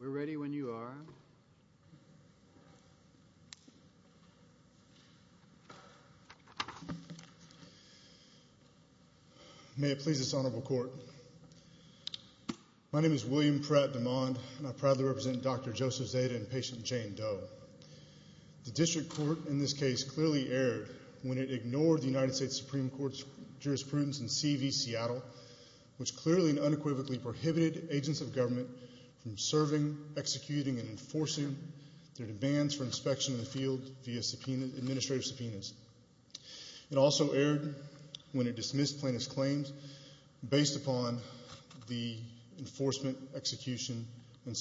We are ready when you are May it please this honorable court My name is William Pratt DeMond and I proudly represent Dr. Joseph Zadeh and patient Jane Doe The district court in this case clearly erred when it ignored the United States Supreme Court's jurisprudence in C.V. Seattle which clearly and unequivocally prohibited agents of government from serving, executing, and enforcing their demands for inspection of the field via administrative subpoenas It also erred when it dismissed plaintiff's claims based upon the enforcement, execution, and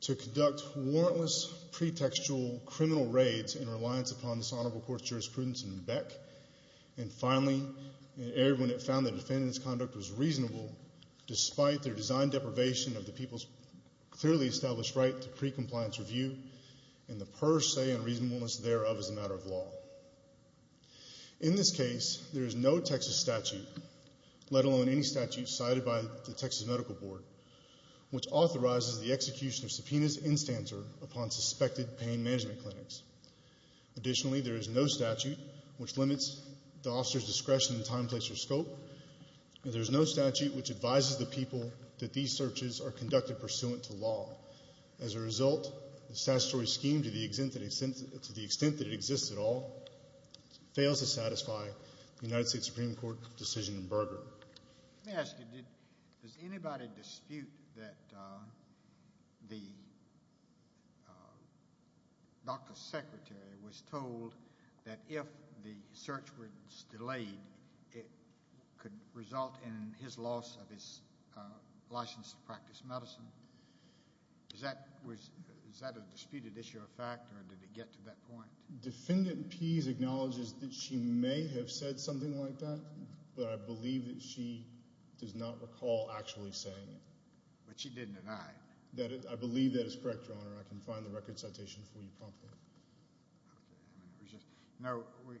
to conduct warrantless pretextual criminal raids in reliance upon this honorable court's jurisprudence in Beck and finally it erred when it found the defendant's conduct was reasonable despite their designed deprivation of the people's clearly established right to pre-compliance review and the per se unreasonableness thereof as a matter of law In this case there is no Texas statute let alone any statute cited by the Texas Medical Board which authorizes the execution of subpoenas in stanza upon suspected pain management clinics Additionally there is no statute which limits the officer's discretion, time, place, or scope and there is no statute which advises the people that these searches are conducted pursuant to law As a result the statutory scheme to the extent that it exists at all fails to satisfy the United States Supreme Court decision in Berger Let me ask you, does anybody dispute that the doctor's secretary was told that if the search was delayed it could result in his loss of his license to practice medicine? Is that a disputed issue of fact or did it get to that point? Defendant Pease acknowledges that she may have said something like that but I believe that she does not recall actually saying it. But she didn't deny it? I believe that is correct your honor, I can find the record citation for you promptly. Now we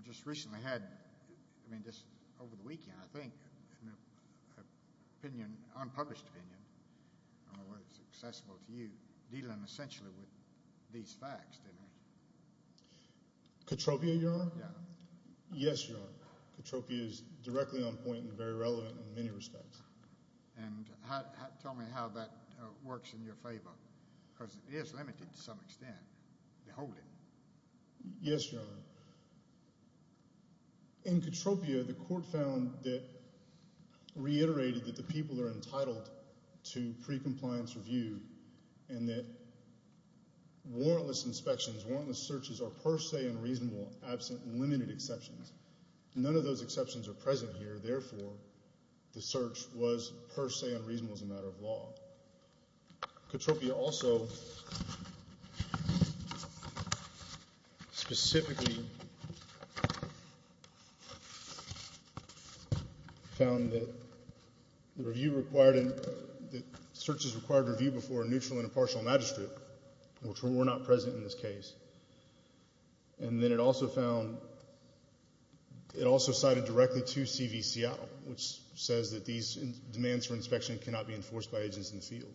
just recently had, I mean just over the weekend I think, an opinion, unpublished opinion, I don't know whether it's accessible to you, dealing essentially with these facts didn't Cotropia is directly on point and very relevant in many respects. And tell me how that works in your favor, because it is limited to some extent to hold it. Yes your honor. In Cotropia the court found that, reiterated that the people are entitled to pre-compliance review and that warrantless inspections, warrantless searches are per se unreasonable absent limited exceptions. None of those exceptions are present here, therefore the search was per se unreasonable as a matter of law. Cotropia also specifically found that the search is required to review before a neutral and impartial magistrate, which were not present in this case. It also cited directly to CV Seattle, which says that these demands for inspection cannot be enforced by agents in the field.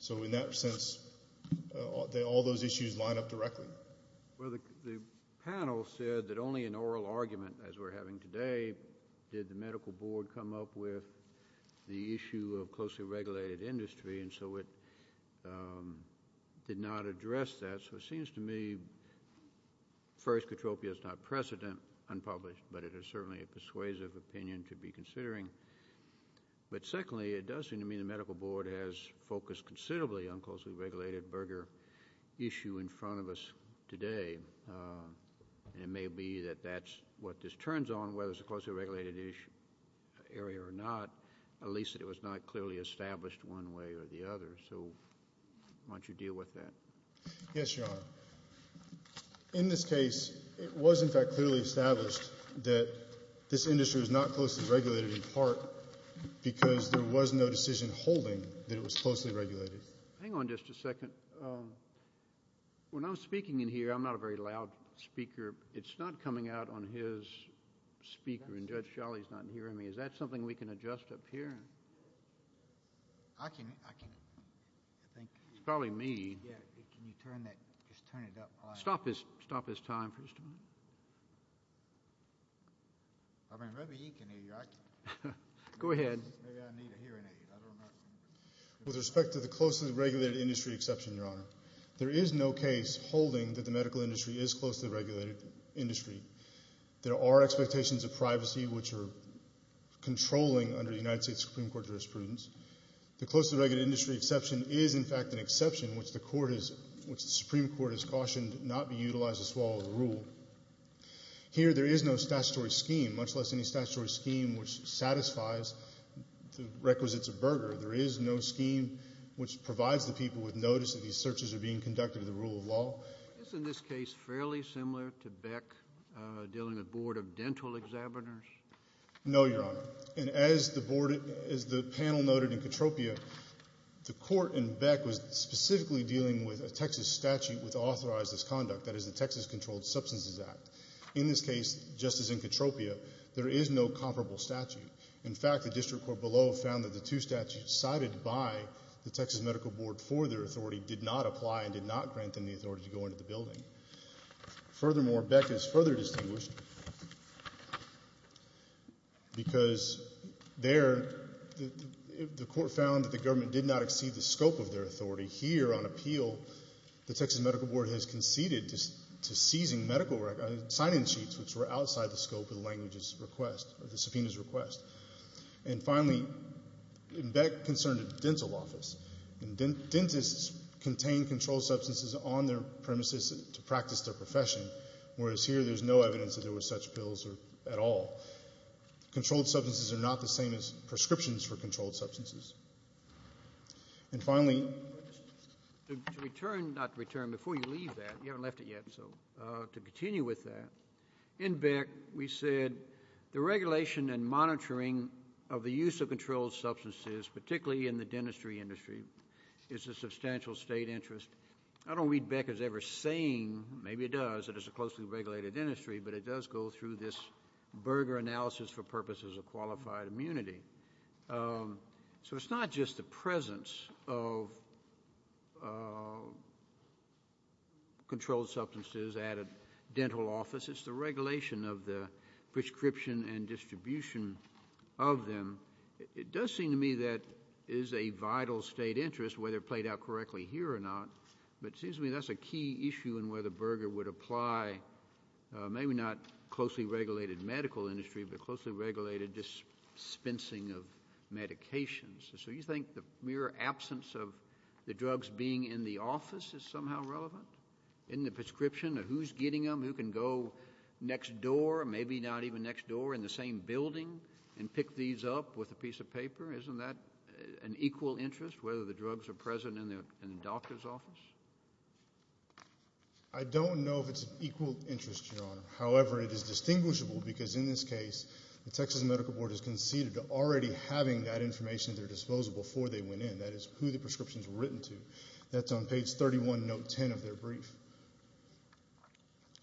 So in that sense, all those issues line up directly. Well the panel said that only an oral argument as we're having today, did the medical board come up with the issue of closely regulated industry and so it did not address that. So it seems to me, first Cotropia is not precedent unpublished, but it is certainly a persuasive opinion to be considering. But secondly, it does seem to me the medical board has focused considerably on closely regulated burger issue in front of us today. It may be that that's what this turns on, whether it's a closely regulated area or not, at least it was not clearly established one way or the other. So why don't you deal with that? Yes, Your Honor. In this case, it was in fact clearly established that this industry was not closely regulated in part because there was no decision holding that it was closely regulated. Hang on just a second. When I'm speaking in here, I'm not a very loud speaker. It's not coming out on his speaker and Judge Sholley's not hearing me. Is that something we can adjust up here? It's probably me. Stop his time for a second. Go ahead. With respect to the closely regulated industry exception, Your Honor, there is no case holding that the medical industry is closely regulated industry. There are expectations of privacy which are controlling under the United States Supreme Court jurisprudence. The closely regulated industry exception is in fact an exception which the Supreme Court has cautioned not be utilized to swallow the rule. Here, there is no statutory scheme, much less any statutory scheme which satisfies the requisites of burger. There is no scheme which provides the people with notice that these searches are being conducted under the rule of law. Isn't this case fairly similar to Beck dealing with Board of Dental Examiners? No, Your Honor. And as the panel noted in Katropia, the court in Beck was specifically dealing with a Texas statute which authorized this conduct, that is the Texas Controlled Substances Act. In this case, just as in Katropia, there is no comparable statute. In fact, the district court below found that the two statutes cited by the Texas Medical Board for their authority did not go into the building. Furthermore, Beck is further distinguished because there, the court found that the government did not exceed the scope of their authority. Here, on appeal, the Texas Medical Board has conceded to seizing medical record, sign-in sheets which were outside the scope of the language's request or the subpoena's request. And finally, in Beck concerned a dental office. Dentists contain controlled substances on their premises to practice their profession, whereas here there's no evidence that there were such pills at all. Controlled substances are not the same as prescriptions for controlled substances. And finally... To return, not return, before you leave that, you haven't left it yet, so to continue with that, in Beck we said the regulation and monitoring of the use of controlled substances, particularly in the dentistry industry, is of substantial state interest. I don't read Beck as ever saying, maybe it does, that it's a closely regulated industry, but it does go through this burger analysis for purposes of qualified immunity. So it's not just the presence of controlled substances at a dental office, it's the regulation of the prescription and is a vital state interest, whether played out correctly here or not. But it seems to me that's a key issue in where the burger would apply, maybe not closely regulated medical industry, but closely regulated dispensing of medications. So you think the mere absence of the drugs being in the office is somehow relevant? In the prescription, who's getting them, who can go next door, maybe not even next door, in the same building and pick these up with a piece of paper? Isn't that an equal interest, whether the drugs are present in the doctor's office? I don't know if it's an equal interest, Your Honor. However, it is distinguishable, because in this case, the Texas Medical Board has conceded to already having that information at their disposal before they went in, that is, who the prescription is written to. That's on page 31, note 10 of their brief.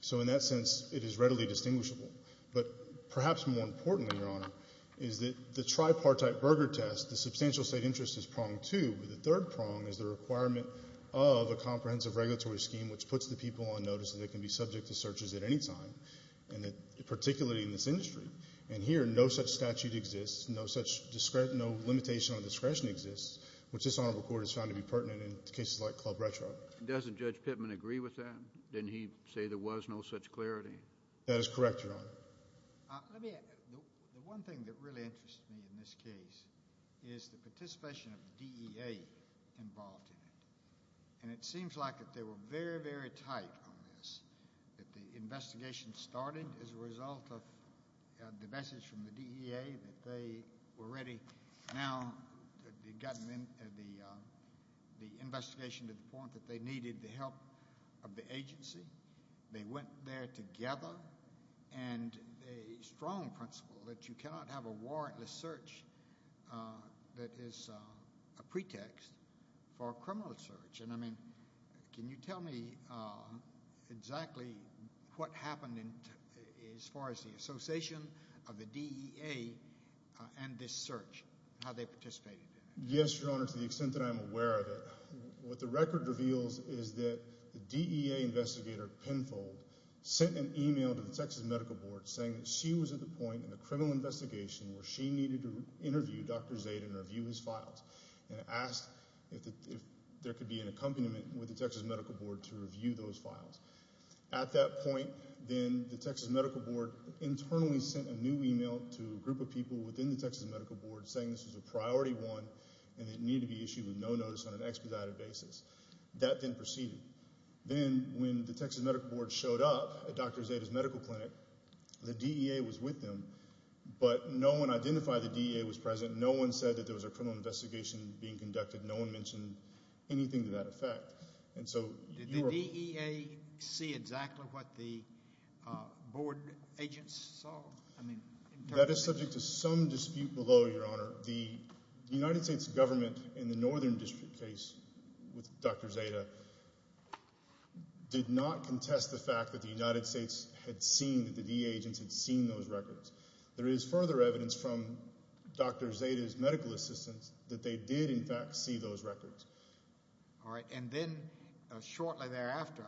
So in that sense, it is readily distinguishable. But perhaps more importantly, Your Honor, is that the tripartite burger test, the substantial state interest is pronged too, but the third prong is the requirement of a comprehensive regulatory scheme which puts the people on notice that they can be subject to searches at any time, particularly in this industry. And here, no such statute exists, no such limitation on discretion exists, which this Honorable Court has found to be pertinent in cases like Club Retro. Doesn't Judge Pittman agree with that? Didn't he say there was no such clarity? That is correct, Your Honor. Let me add, the one thing that really interests me in this case is the participation of DEA involved in it. And it seems like that they were very, very tight on this, that the investigation started as a result of the message from the DEA that they were ready now to be gotten in the investigation to the point that they needed the help of the agency, they went there together, and a strong principle that you cannot have a warrantless search that is a pretext for a criminal search. And I mean, can you tell me exactly what happened as far as the association of the DEA and this search, how they participated in it? Yes, Your Honor, to the extent that I'm aware of what the record reveals is that the DEA investigator, Penfold, sent an email to the Texas Medical Board saying that she was at the point in the criminal investigation where she needed to interview Dr. Zayden and review his files, and asked if there could be an accompaniment with the Texas Medical Board to review those files. At that point, then the Texas Medical Board internally sent a new email to a group of people within the Texas Medical Board saying this was a priority one and it needed to be issued with no notice on an expedited basis. That then proceeded. Then when the Texas Medical Board showed up at Dr. Zayden's medical clinic, the DEA was with them, but no one identified the DEA was present, no one said that there was a criminal investigation being conducted, no one mentioned anything to that effect. Did the DEA see exactly what the board agents saw? That is subject to some speculation, but the United States government in the Northern District case with Dr. Zayden did not contest the fact that the United States had seen that the DEA agents had seen those records. There is further evidence from Dr. Zayden's medical assistants that they did in fact see those records. All right, and then shortly thereafter,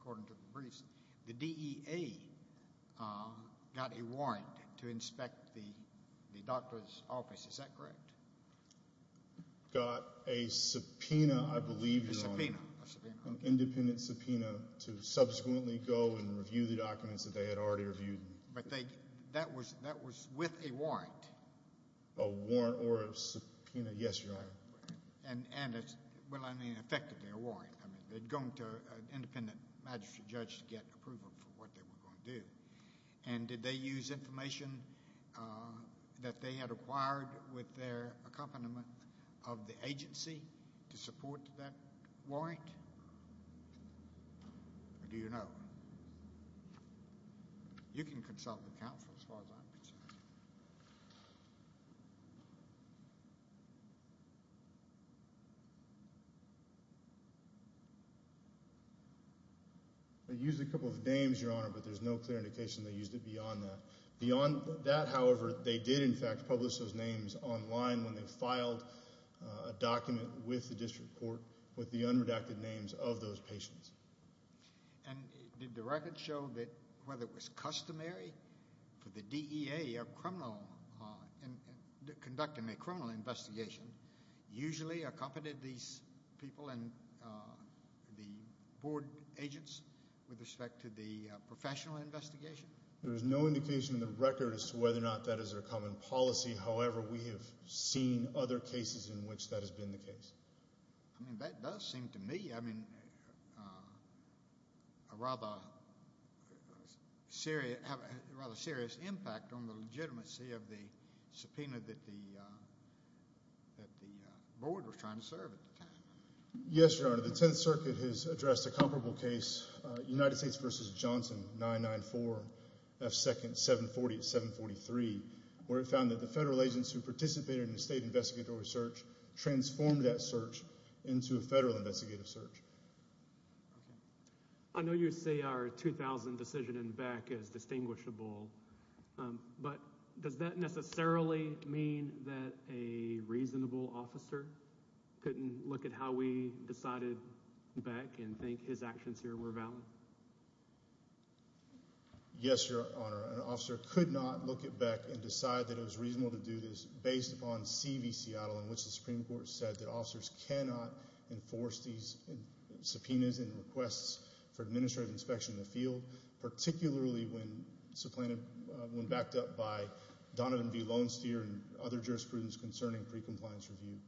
according to the case, is that correct? Got a subpoena, I believe, Your Honor. A subpoena. An independent subpoena to subsequently go and review the documents that they had already reviewed. That was with a warrant. A warrant or a subpoena, yes, Your Honor. Effectively a warrant. They had gone to an independent magistrate judge to get approval for what they were going to provide with their accompaniment of the agency to support that warrant? Or do you know? You can consult the counsel as far as I'm concerned. They used a couple of names, Your Honor, but there's no clear indication they used it beyond that. Beyond that, however, they did in fact publish those names online when they filed a document with the district court with the unredacted names of those patients. And did the record show that whether it was customary for the DEA conducting a criminal investigation usually accompanied these people and the board agents with respect to the professional investigation? There is no indication in the record as to whether or not that is their common policy. However, we have seen other cases in which that has been the case. I mean, that does seem to me, I mean, a rather serious impact on the legitimacy of the subpoena that the board was trying to serve at the time. Yes, Your Honor. The Tenth Circuit has addressed a comparable case, United States v. Johnson 994 F. Second 740-743, where it found that the federal agents who participated in the state investigatory search transformed that search into a federal investigative search. I know you say our 2000 decision in Beck is distinguishable, but does that necessarily mean that a reasonable officer couldn't look at how we decided Beck and think his actions here were valid? Yes, Your Honor. An officer could not look at Beck and decide that it was reasonable to do this based upon C.V. Seattle in which the Supreme Court said that officers cannot enforce these subpoenas and requests for administrative inspection in the field, particularly when backed up by Donovan v. Lone Steer and other jurisprudence concerning pre-compliance review.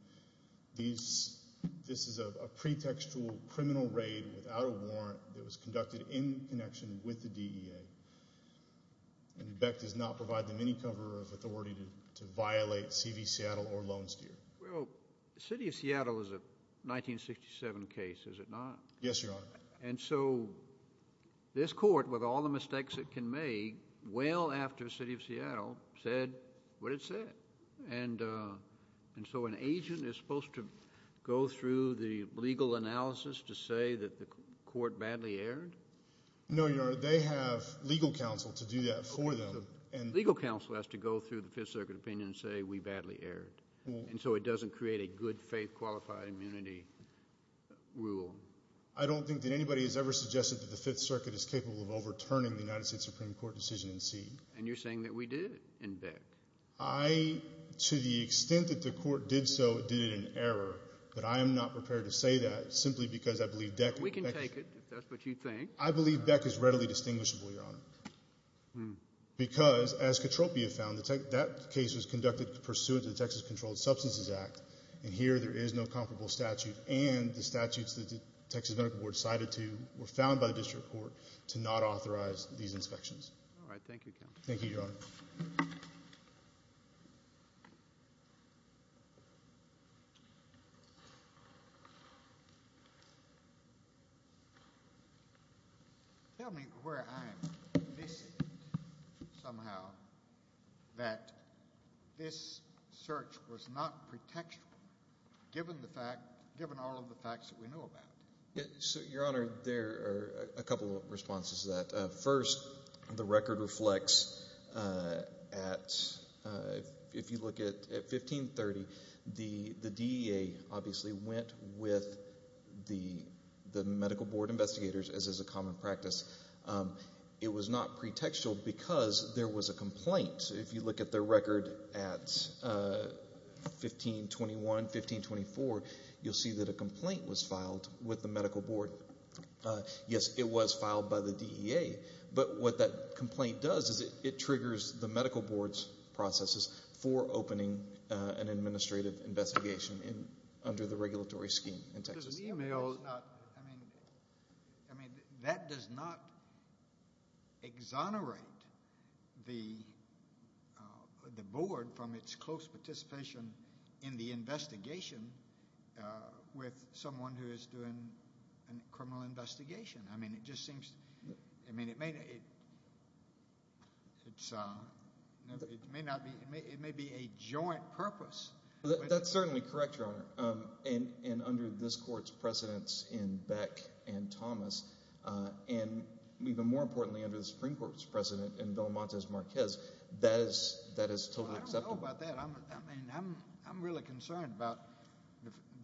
This is a pretextual criminal raid without a warrant that was conducted in connection with the DEA, and Beck does not provide them any cover of authority to violate C.V. Seattle or Lone Steer. Well, the City of Seattle is a 1967 case, is it not? Yes, Your Honor. And so this court, with all the mistakes it can make, well after C.V. Seattle said what it said. And so an agent is supposed to go through the legal analysis to say that the court badly erred? No, Your Honor. They have legal counsel to do that for them. Legal counsel has to go through the Fifth Circuit opinion and say we badly erred. And so it doesn't create a good faith qualified immunity rule. I don't think that anybody has ever suggested that the Fifth Circuit is capable of overturning the United States Supreme Court decision in C. And you're saying that we did it in Beck? I, to the extent that the court did so, did it in error, but I am not prepared to say that simply because I believe Beck. We can take it, if that's what you think. I believe Beck is readily distinguishable, Your Honor. Because, as Katropia found, that case was conducted pursuant to the Texas Controlled Substances Act, and here there is no comparable statute, and the statutes that the Texas Medical Board cited to were found by the District Court to not authorize these inspections. All right. Thank you, counsel. Thank you, Your Honor. Tell me where I am missing somehow that this search was not pretextual, given all of the facts that we know about. So, Your Honor, there are a couple of responses to that. First, the record reflects at, if you look at 1530, the DEA obviously went with the Medical Board investigators, as is a common practice. It was not pretextual because there was a complaint. If you look at the record at 1521, 1524, you'll see that a complaint was filed with the Medical Board. Yes, it was filed by the DEA, but what that complaint does is it triggers the Medical Board's processes for opening an administrative investigation under the regulatory scheme in Texas. I mean, that does not exonerate the Board from its close participation in the investigation with someone who is doing a criminal investigation. I mean, it just seems, I mean, it may be a joint purpose. That's certainly correct, Your Honor, and under this Court's precedence in Beck and Thomas, and even more importantly under the Supreme Court's precedent in Villamontes Marquez, that is totally acceptable. I don't know about that. I mean, I'm really concerned about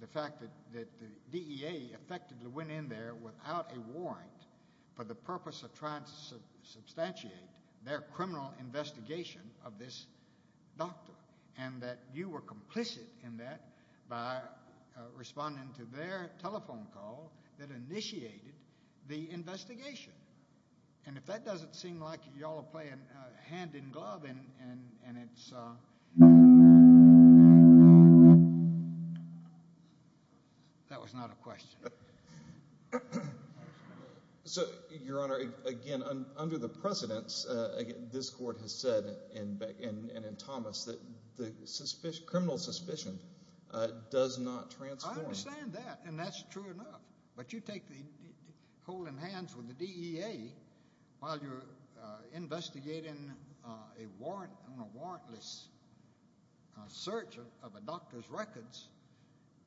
the fact that the DEA effectively went in there without a warrant for the purpose of trying to substantiate their criminal investigation of this doctor, and that you were complicit in that by responding to their telephone call that initiated the investigation. And if that doesn't seem like you all are playing hand in glove, and it's... That was not a question. So, Your Honor, again, under the precedence this Court has said in Beck and in Thomas that the criminal suspicion does not transform. I understand that, and that's true enough, but you take the, holding hands with the DEA while you're investigating a warrant on a warrantless search of a doctor's records.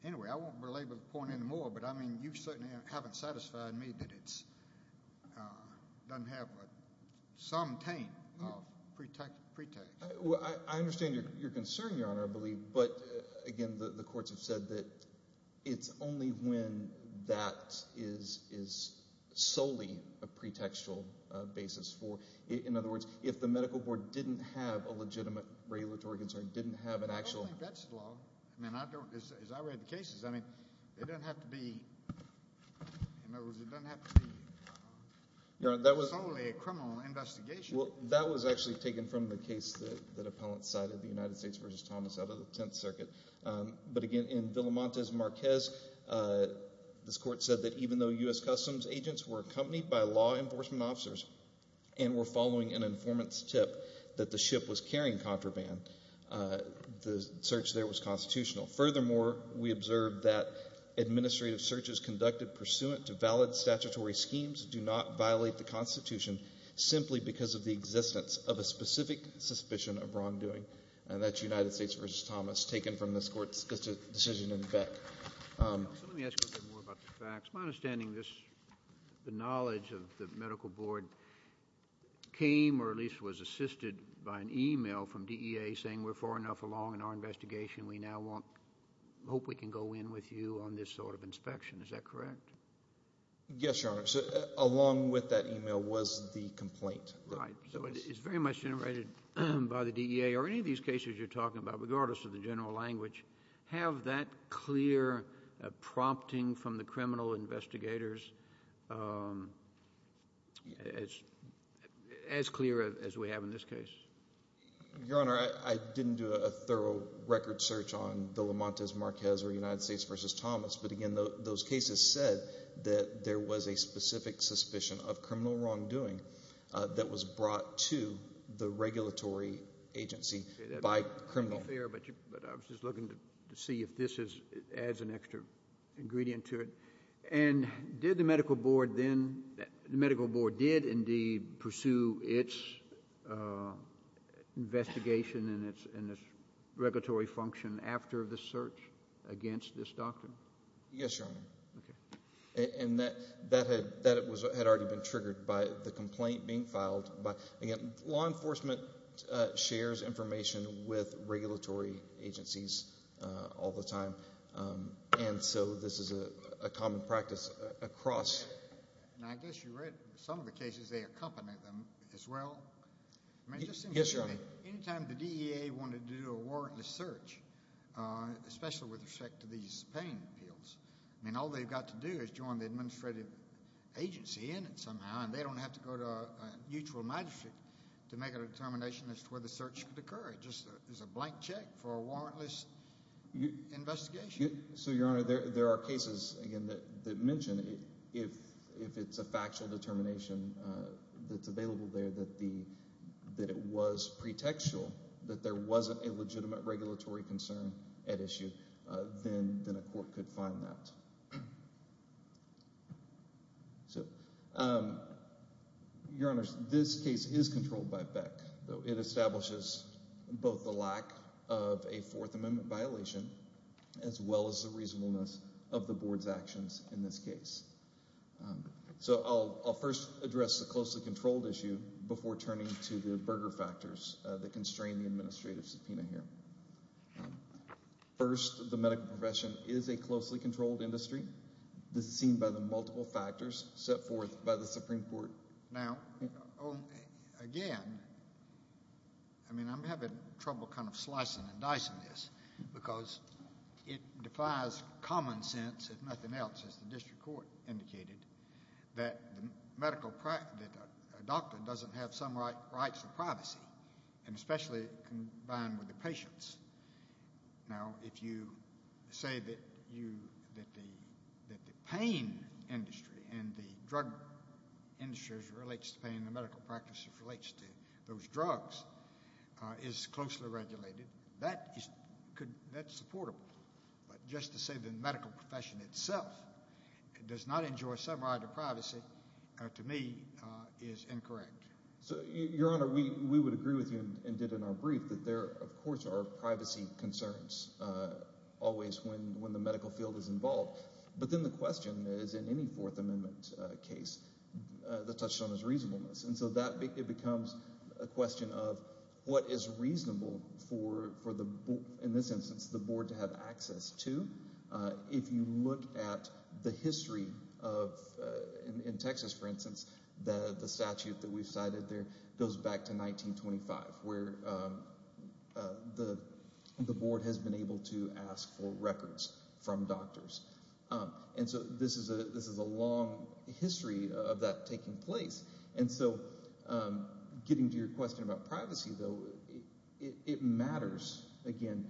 Anyway, I won't belabor the point anymore, but, I mean, you certainly haven't satisfied me that it doesn't have some taint of pretext. Well, I understand your concern, Your Honor, I believe, but, again, the courts have said that it's only when that is solely a pretextual basis for, in other words, if the medical board didn't have a legitimate regulatory concern, didn't have an actual... I don't think that's the law. I mean, as I read the cases, I mean, it doesn't have to be, in other words, it doesn't have to be solely a criminal investigation. Well, that was actually taken from the case that appellants cited, the United States v. Thomas out of the Tenth Circuit, but, again, in Villamontes-Marquez, this court said that even though U.S. Customs agents were accompanied by law enforcement officers and were following an informant's tip that the ship was carrying contraband, the search there was constitutional. Furthermore, we observed that administrative searches conducted pursuant to valid statutory schemes do not violate the Constitution simply because of the existence of a specific suspicion of wrongdoing, and that's United States v. Thomas taken from this court's decision in Beck. Let me ask you a bit more about the facts. My understanding is the knowledge of the medical board came or at least was assisted by an e-mail from DEA saying we're far enough along in our investigation, we now hope we can go in with you on this sort of inspection. Is that correct? Yes, Your Honor. So along with that e-mail was the complaint. Right. So it's very much generated by the DEA. Are any of these cases you're talking about, regardless of the general language, have that clear prompting from the criminal investigators as clear as we have in this case? Your Honor, I didn't do a thorough record search on Villamontes-Marquez or United States v. Thomas, but, again, those cases said that there was a specific suspicion of criminal wrongdoing that was brought to the regulatory agency by criminals. But I was just looking to see if this adds an extra ingredient to it. And did the medical board then – the medical board did indeed pursue its investigation and its regulatory function after the search against this doctor? Yes, Your Honor. And that had already been triggered by the complaint being filed. Again, law enforcement shares information with regulatory agencies all the time, and so this is a common practice across – And I guess you read some of the cases, they accompanied them as well. Yes, Your Honor. Any time the DEA wanted to do a warrantless search, especially with respect to these pain pills, I mean, all they've got to do is join the administrative agency in it somehow, and they don't have to go to a mutual magistrate to make a determination as to whether the search could occur. It's just a blank check for a warrantless investigation. So, Your Honor, there are cases, again, that mention if it's a factual determination that's available there and that it was pretextual, that there wasn't a legitimate regulatory concern at issue, then a court could find that. Your Honors, this case is controlled by Beck. It establishes both the lack of a Fourth Amendment violation as well as the reasonableness of the board's actions in this case. So I'll first address the closely controlled issue before turning to the burger factors that constrain the administrative subpoena here. First, the medical profession is a closely controlled industry. This is seen by the multiple factors set forth by the Supreme Court. Now, again, I mean, I'm having trouble kind of slicing and dicing this because it defies common sense, if nothing else, as the district court indicated, that a doctor doesn't have some rights of privacy, and especially combined with the patients. Now, if you say that the pain industry and the drug industry as it relates to pain and the medical practice as it relates to those drugs is closely regulated, that's supportable. But just to say that the medical profession itself does not enjoy some right of privacy, to me, is incorrect. Your Honor, we would agree with you and did in our brief that there, of course, are privacy concerns always when the medical field is involved. But then the question is, in any Fourth Amendment case, the touchstone is reasonableness. And so that becomes a question of what is reasonable for, in this instance, the board to have access to. If you look at the history of, in Texas, for instance, the statute that we've cited there goes back to 1925 where the board has been able to ask for records from doctors. And so this is a long history of that taking place. And so getting to your question about privacy, though, it matters, again,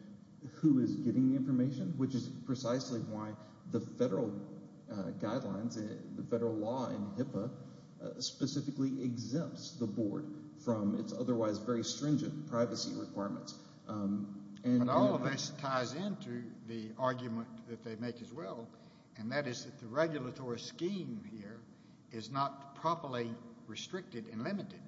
who is getting the information, which is precisely why the federal guidelines, the federal law in HIPAA, specifically exempts the board from its otherwise very stringent privacy requirements. And all of this ties into the argument that they make as well, and that is that the regulatory scheme here is not properly restricted and limited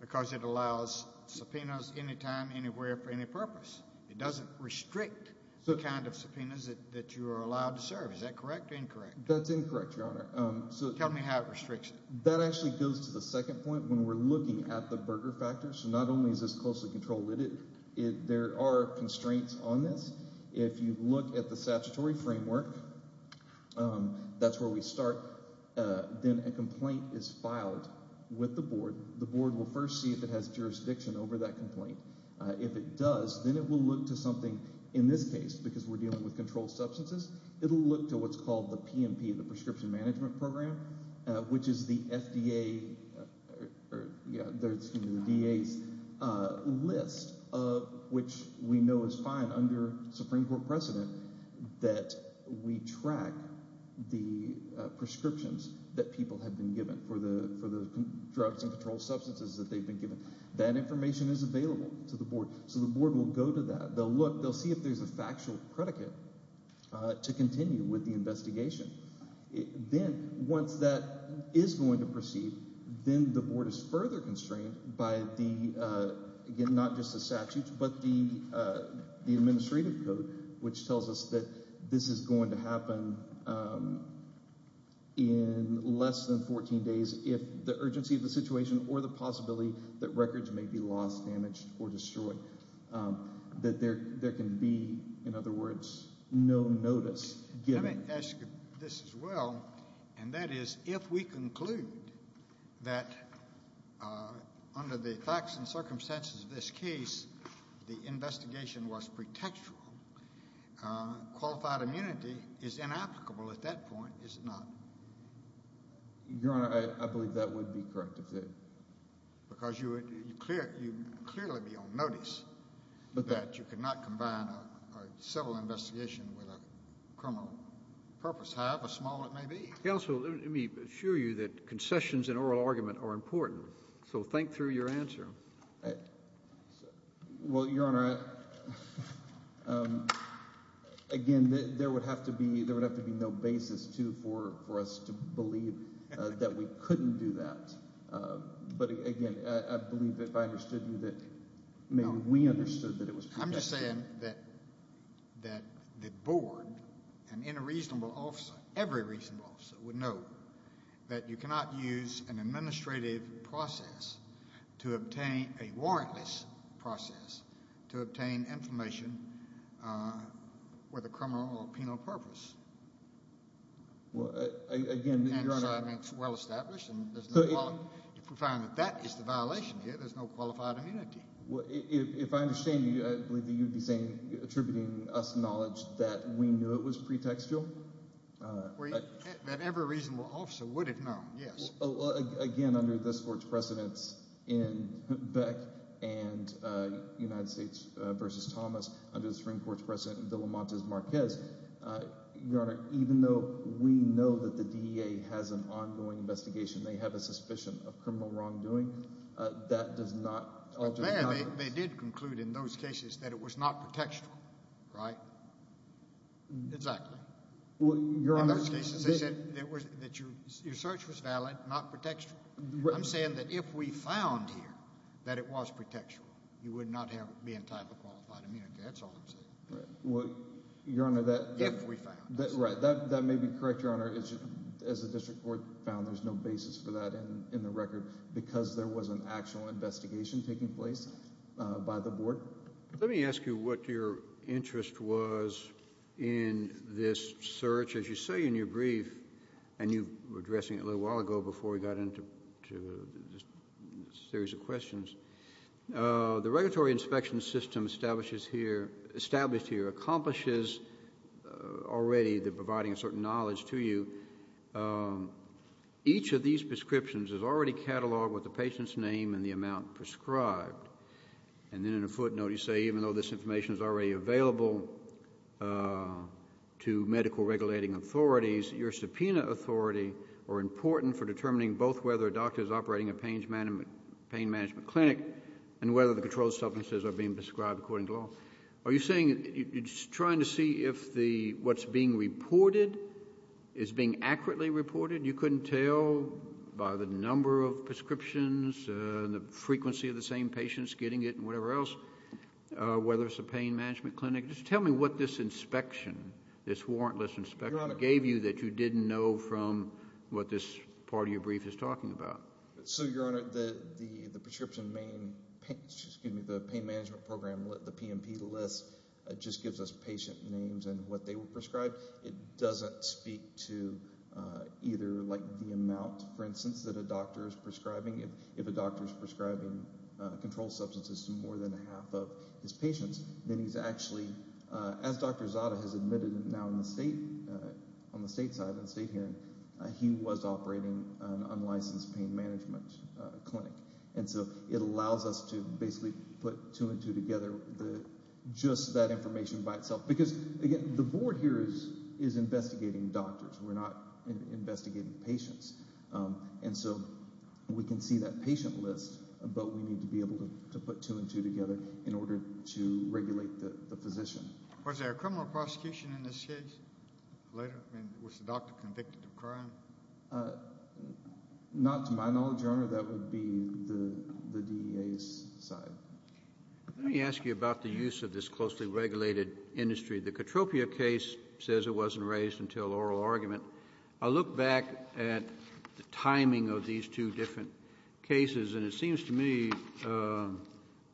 because it allows subpoenas anytime, anywhere, for any purpose. It doesn't restrict the kind of subpoenas that you are allowed to serve. Is that correct or incorrect? That's incorrect, Your Honor. Tell me how it restricts it. That actually goes to the second point when we're looking at the Berger factor. So not only is this closely controlled, there are constraints on this. If you look at the statutory framework, that's where we start. Then a complaint is filed with the board. The board will first see if it has jurisdiction over that complaint. If it does, then it will look to something, in this case, because we're dealing with controlled substances, it will look to what's called the PMP, the Prescription Management Program, which is the FDA's list of which we know is fine under Supreme Court precedent that we track the prescriptions that people have been given for the drugs and controlled substances that they've been given. That information is available to the board. So the board will go to that. They'll look. They'll see if there's a factual predicate to continue with the investigation. Then once that is going to proceed, then the board is further constrained by, again, not just the statutes, but the administrative code, which tells us that this is going to happen in less than 14 days if the urgency of the situation or the possibility that records may be lost, damaged, or destroyed, that there can be, in other words, no notice given. Let me ask you this as well, and that is, if we conclude that under the facts and circumstances of this case, the investigation was pretextual, qualified immunity is inapplicable at that point, is it not? Your Honor, I believe that would be correct. Because you would clearly be on notice that you could not combine a civil investigation with a criminal purpose, however small it may be. Counsel, let me assure you that concessions and oral argument are important. So think through your answer. Well, Your Honor, again, there would have to be no basis, too, for us to believe that we couldn't do that. But, again, I believe that if I understood you, that maybe we understood that it was pretextual. I'm just saying that the board and any reasonable officer, every reasonable officer, would know that you cannot use an administrative process to obtain a warrantless process to obtain information with a criminal or penal purpose. Well, again, Your Honor. Well established. If we find that that is the violation here, there's no qualified immunity. If I understand you, I believe that you'd be attributing us knowledge that we knew it was pretextual. That every reasonable officer would have known, yes. Again, under this Court's precedence in Beck and United States v. Thomas, under the Supreme Court's precedent in De La Monte's Marquez, Your Honor, even though we know that the DEA has an ongoing investigation, they have a suspicion of criminal wrongdoing, that does not alter the evidence. But, there, they did conclude in those cases that it was not pretextual, right? Exactly. In those cases, they said that your search was valid, not pretextual. I'm saying that if we found here that it was pretextual, you would not be entitled to qualified immunity. That's all I'm saying. Your Honor, that may be correct, Your Honor. As the District Court found, there's no basis for that in the record because there was an actual investigation taking place by the Board. Let me ask you what your interest was in this search. As you say in your brief, and you were addressing it a little while ago before we got into this series of questions, the regulatory inspection system established here accomplishes already the providing of certain knowledge to you. Each of these prescriptions is already cataloged with the patient's name and the amount prescribed. And then, in a footnote, you say, even though this information is already available to medical regulating authorities, your subpoena authority are important for determining both whether a doctor is operating a pain management clinic and whether the controlled substances are being prescribed according to law. Are you trying to see if what's being reported is being accurately reported? You couldn't tell by the number of prescriptions and the frequency of the same patients getting it and whatever else, whether it's a pain management clinic. Just tell me what this inspection, this warrantless inspection, gave you that you didn't know from what this part of your brief is talking about. So, Your Honor, the pain management program, the PMP list, just gives us patient names and what they were prescribed. It doesn't speak to either the amount, for instance, that a doctor is prescribing. If a doctor is prescribing controlled substances to more than half of his patients, then he's actually, as Dr. Zada has admitted now on the state side, on the state hearing, he was operating an unlicensed pain management clinic. And so it allows us to basically put two and two together, just that information by itself. Because, again, the board here is investigating doctors. We're not investigating patients. And so we can see that patient list, but we need to be able to put two and two together in order to regulate the physician. Was there a criminal prosecution in this case later? I mean, was the doctor convicted of crime? Not to my knowledge, Your Honor. That would be the DEA's side. Let me ask you about the use of this closely regulated industry. The Katropia case says it wasn't raised until oral argument. I look back at the timing of these two different cases, and it seems to me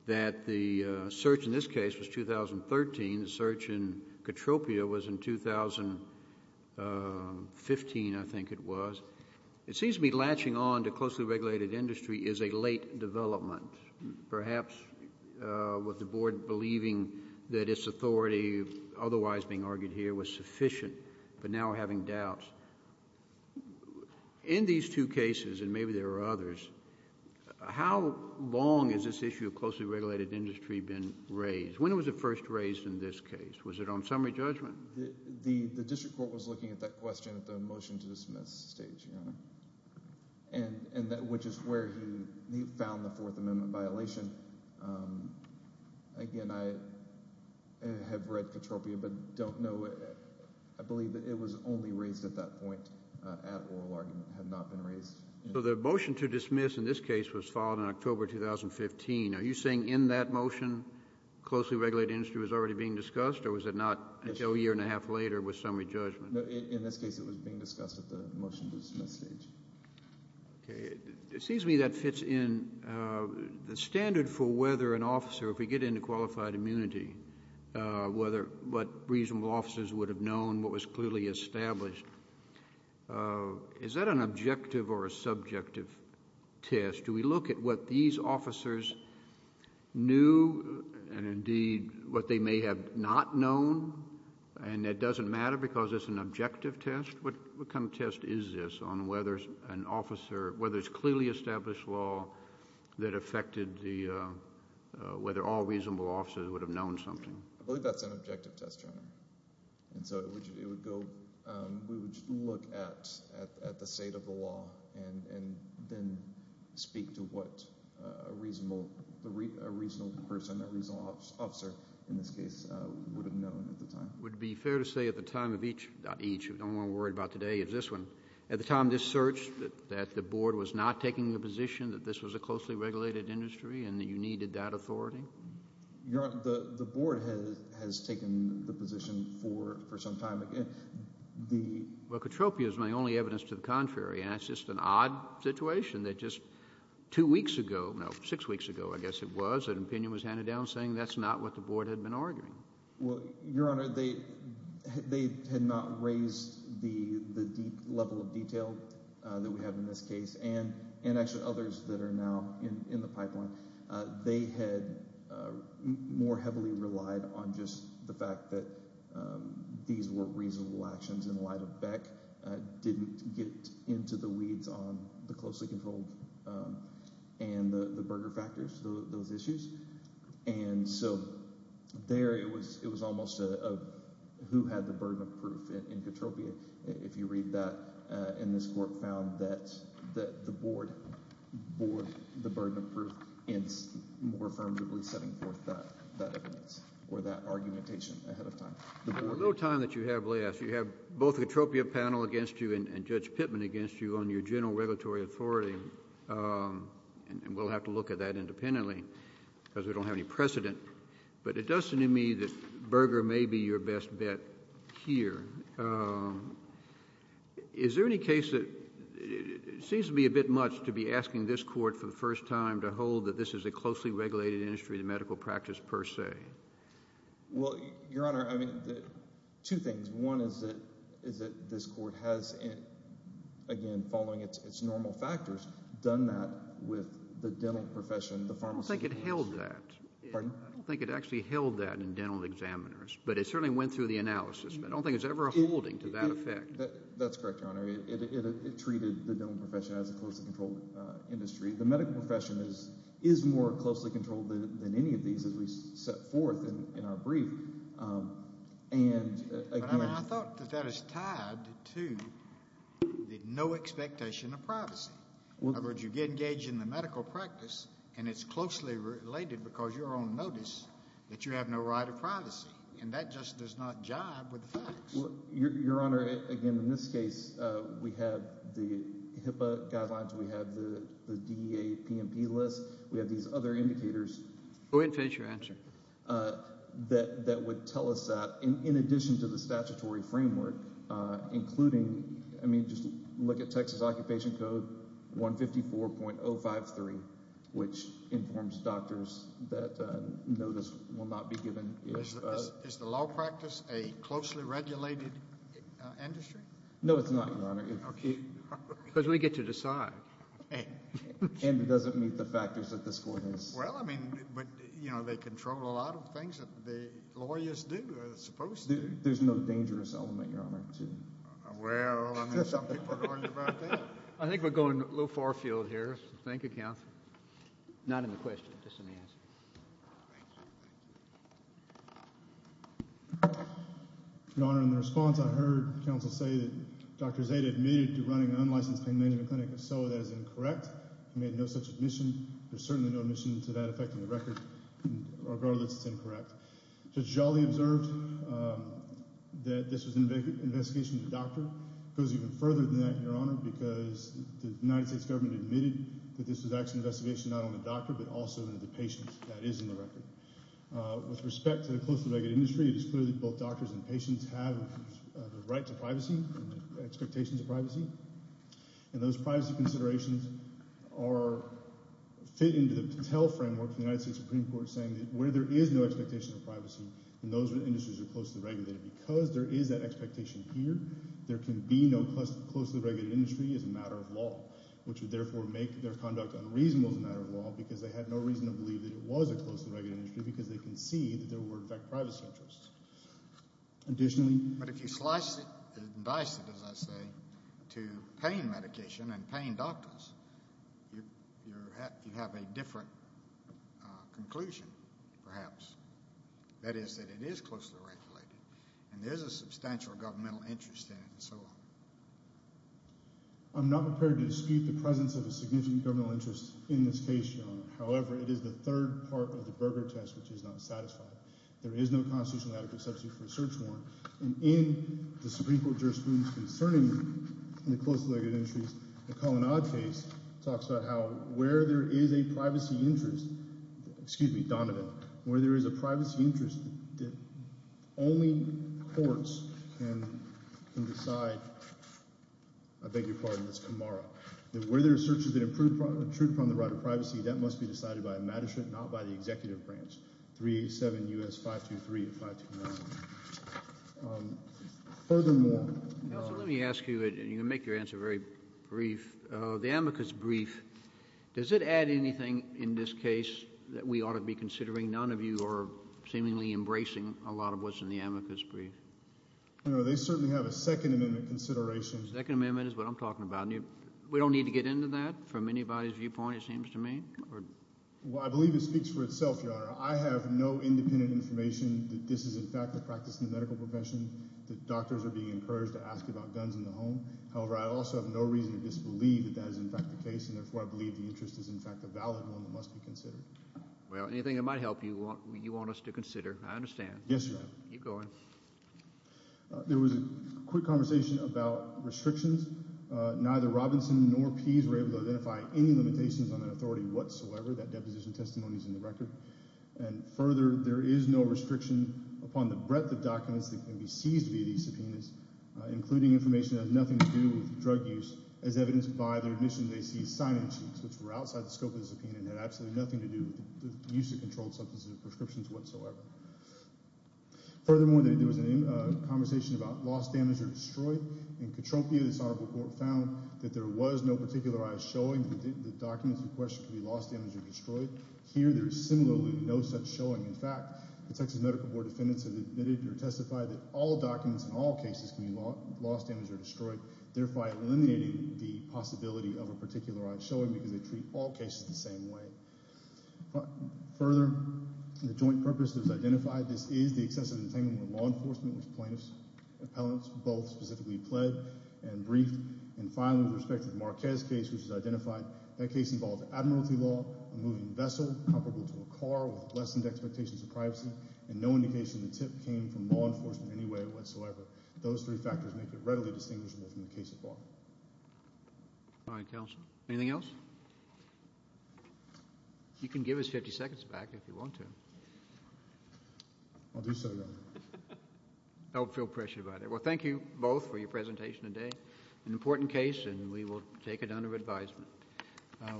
that the search in this case was 2013. The search in Katropia was in 2015, I think it was. It seems to me latching on to closely regulated industry is a late development, perhaps with the board believing that its authority otherwise being argued here was sufficient, but now we're having doubts. In these two cases, and maybe there are others, how long has this issue of closely regulated industry been raised? When was it first raised in this case? Was it on summary judgment? The district court was looking at that question at the motion to dismiss stage, Your Honor, which is where he found the Fourth Amendment violation. Again, I have read Katropia but don't know. I believe that it was only raised at that point at oral argument, had not been raised. So the motion to dismiss in this case was filed in October 2015. Are you saying in that motion closely regulated industry was already being discussed, or was it not until a year and a half later with summary judgment? In this case it was being discussed at the motion to dismiss stage. Okay. It seems to me that fits in the standard for whether an officer, if we get into qualified immunity, what reasonable officers would have known, what was clearly established. Is that an objective or a subjective test? Do we look at what these officers knew and, indeed, what they may have not known, and it doesn't matter because it's an objective test? What kind of test is this on whether an officer, whether it's clearly established law that affected the, whether all reasonable officers would have known something? I believe that's an objective test, Your Honor. And so it would go, we would look at the state of the law and then speak to what a reasonable person, a reasonable officer, in this case, would have known at the time. Would it be fair to say at the time of each, not each, the only one I'm worried about today is this one, but at the time of this search that the board was not taking the position that this was a closely regulated industry and that you needed that authority? Your Honor, the board has taken the position for some time. Well, Katropia is my only evidence to the contrary, and it's just an odd situation that just two weeks ago, no, six weeks ago, I guess it was, an opinion was handed down saying that's not what the board had been arguing. Well, Your Honor, they had not raised the deep level of detail that we have in this case and actually others that are now in the pipeline. They had more heavily relied on just the fact that these were reasonable actions in light of Beck didn't get into the weeds on the closely controlled and the Berger factors, those issues. And so there, it was almost a who had the burden of proof in Katropia. If you read that, and this court found that the board bore the burden of proof in more affirmatively setting forth that evidence or that argumentation ahead of time. The board... The little time that you have left, you have both the Katropia panel against you and Judge Pittman against you on your general regulatory authority, and we'll have to look at that independently because we don't have any precedent. But it does seem to me that Berger may be your best bet here. Is there any case that it seems to be a bit much to be asking this court for the first time to hold that this is a closely regulated industry, the medical practice per se? Well, Your Honor, I mean, two things. One is that this court has, again, following its normal factors, done that with the dental profession, the pharmaceutical industry. I don't think it held that. Pardon? I don't think it actually held that in dental examiners, but it certainly went through the analysis. I don't think it's ever holding to that effect. That's correct, Your Honor. It treated the dental profession as a closely controlled industry. The medical profession is more closely controlled than any of these as we set forth in our brief. But, I mean, I thought that that is tied to the no expectation of privacy. In other words, you get engaged in the medical practice, and it's closely related because you're on notice that you have no right of privacy, and that just does not jibe with the facts. Well, Your Honor, again, in this case, we have the HIPAA guidelines, we have the DEA PMP list, we have these other indicators. Go ahead and finish your answer. That would tell us that, in addition to the statutory framework, including, I mean, just look at Texas Occupation Code 154.053, which informs doctors that notice will not be given. Is the law practice a closely regulated industry? No, it's not, Your Honor. Because we get to decide. And it doesn't meet the factors that this court has. Well, I mean, but, you know, they control a lot of things that the lawyers do. There's no dangerous element, Your Honor. Well, I mean, some people are going about that. I think we're going a little far field here. Thank you, counsel. Not in the question, just in the answer. Your Honor, in the response, I heard counsel say that Dr. Zeta admitted to running an unlicensed pain management clinic, so that is incorrect. He made no such admission. There's certainly no admission to that affecting the record. Regardless, it's incorrect. Judge Jolly observed that this was an investigation of the doctor. It goes even further than that, Your Honor, because the United States government admitted that this was actually an investigation not only of the doctor, but also of the patient. That is in the record. With respect to the closely regulated industry, it is clear that both doctors and patients have the right to privacy and the expectations of privacy. And those privacy considerations fit into the Patel framework of the United States Supreme Court saying that where there is no expectation of privacy, then those industries are closely regulated. Because there is that expectation here, there can be no closely regulated industry as a matter of law, which would therefore make their conduct unreasonable as a matter of law because they had no reason to believe that it was a closely regulated industry because they concede that there were, in fact, privacy interests. Additionally... But if you slice it and dice it, as I say, to pain medication and pain doctors, you have a different conclusion, perhaps. That is that it is closely regulated and there is a substantial governmental interest in it and so on. I'm not prepared to dispute the presence of a significant governmental interest in this case, Your Honor. However, it is the third part of the Berger test which is not satisfied. There is no constitutionally adequate substitute for a search warrant. And in the Supreme Court jurisprudence concerning the closely regulated industries, the Collin-Odd case talks about how where there is a privacy interest, excuse me, Donovan, where there is a privacy interest that only courts can decide, I beg your pardon, that's Camara, that where there are searches that intrude upon the right of privacy, that must be decided by a magistrate, not by the executive branch. 387 U.S. 523 and 529. Furthermore... Counsel, let me ask you, and you can make your answer very brief. The amicus brief, does it add anything in this case that we ought to be considering? None of you are seemingly embracing a lot of what's in the amicus brief. No, they certainly have a Second Amendment consideration. The Second Amendment is what I'm talking about. We don't need to get into that from anybody's viewpoint, it seems to me? Well, I believe it speaks for itself, Your Honor. I have no independent information that this is in fact a practice in the medical profession, that doctors are being encouraged to ask about guns in the home. However, I also have no reason to disbelieve that that is in fact the case, and therefore I believe the interest is in fact a valid one that must be considered. Well, anything that might help you, you want us to consider. I understand. Yes, Your Honor. Keep going. There was a quick conversation about restrictions. Neither Robinson nor Pease were able to identify any limitations on that authority whatsoever. That deposition testimony is in the record. And further, there is no restriction upon the breadth of documents that can be seized via these subpoenas, including information that has nothing to do with drug use, as evidenced by their admission they seized cyanide sheets, which were outside the scope of the subpoena and had absolutely nothing to do with the use of controlled substances or prescriptions whatsoever. Furthermore, there was a conversation about loss, damage, or destroy. In Katropia, this Honorable Court found that there was no particularized showing that the documents in question could be lost, damaged, or destroyed. Here, there is similarly no such showing. In fact, the Texas Medical Board defendants have admitted or testified that all documents in all cases can be lost, damaged, or destroyed, thereby eliminating the possibility of a particularized showing because they treat all cases the same way. Further, the joint purpose that was identified, this is the excessive entanglement with law enforcement, with plaintiffs, appellants, both specifically pled and briefed. And finally, with respect to the Marquez case, which was identified, that case involved admiralty law, a moving vessel comparable to a car with lessened expectations of privacy, and no indication the tip came from law enforcement in any way whatsoever. Those three factors make it readily distinguishable from the case at bar. All right, Counsel. Anything else? You can give us 50 seconds back if you want to. I'll do so now. Don't feel pressured about it. Well, thank you both for your presentation today. An important case, and we will take it under advisement.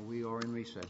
We are in recess.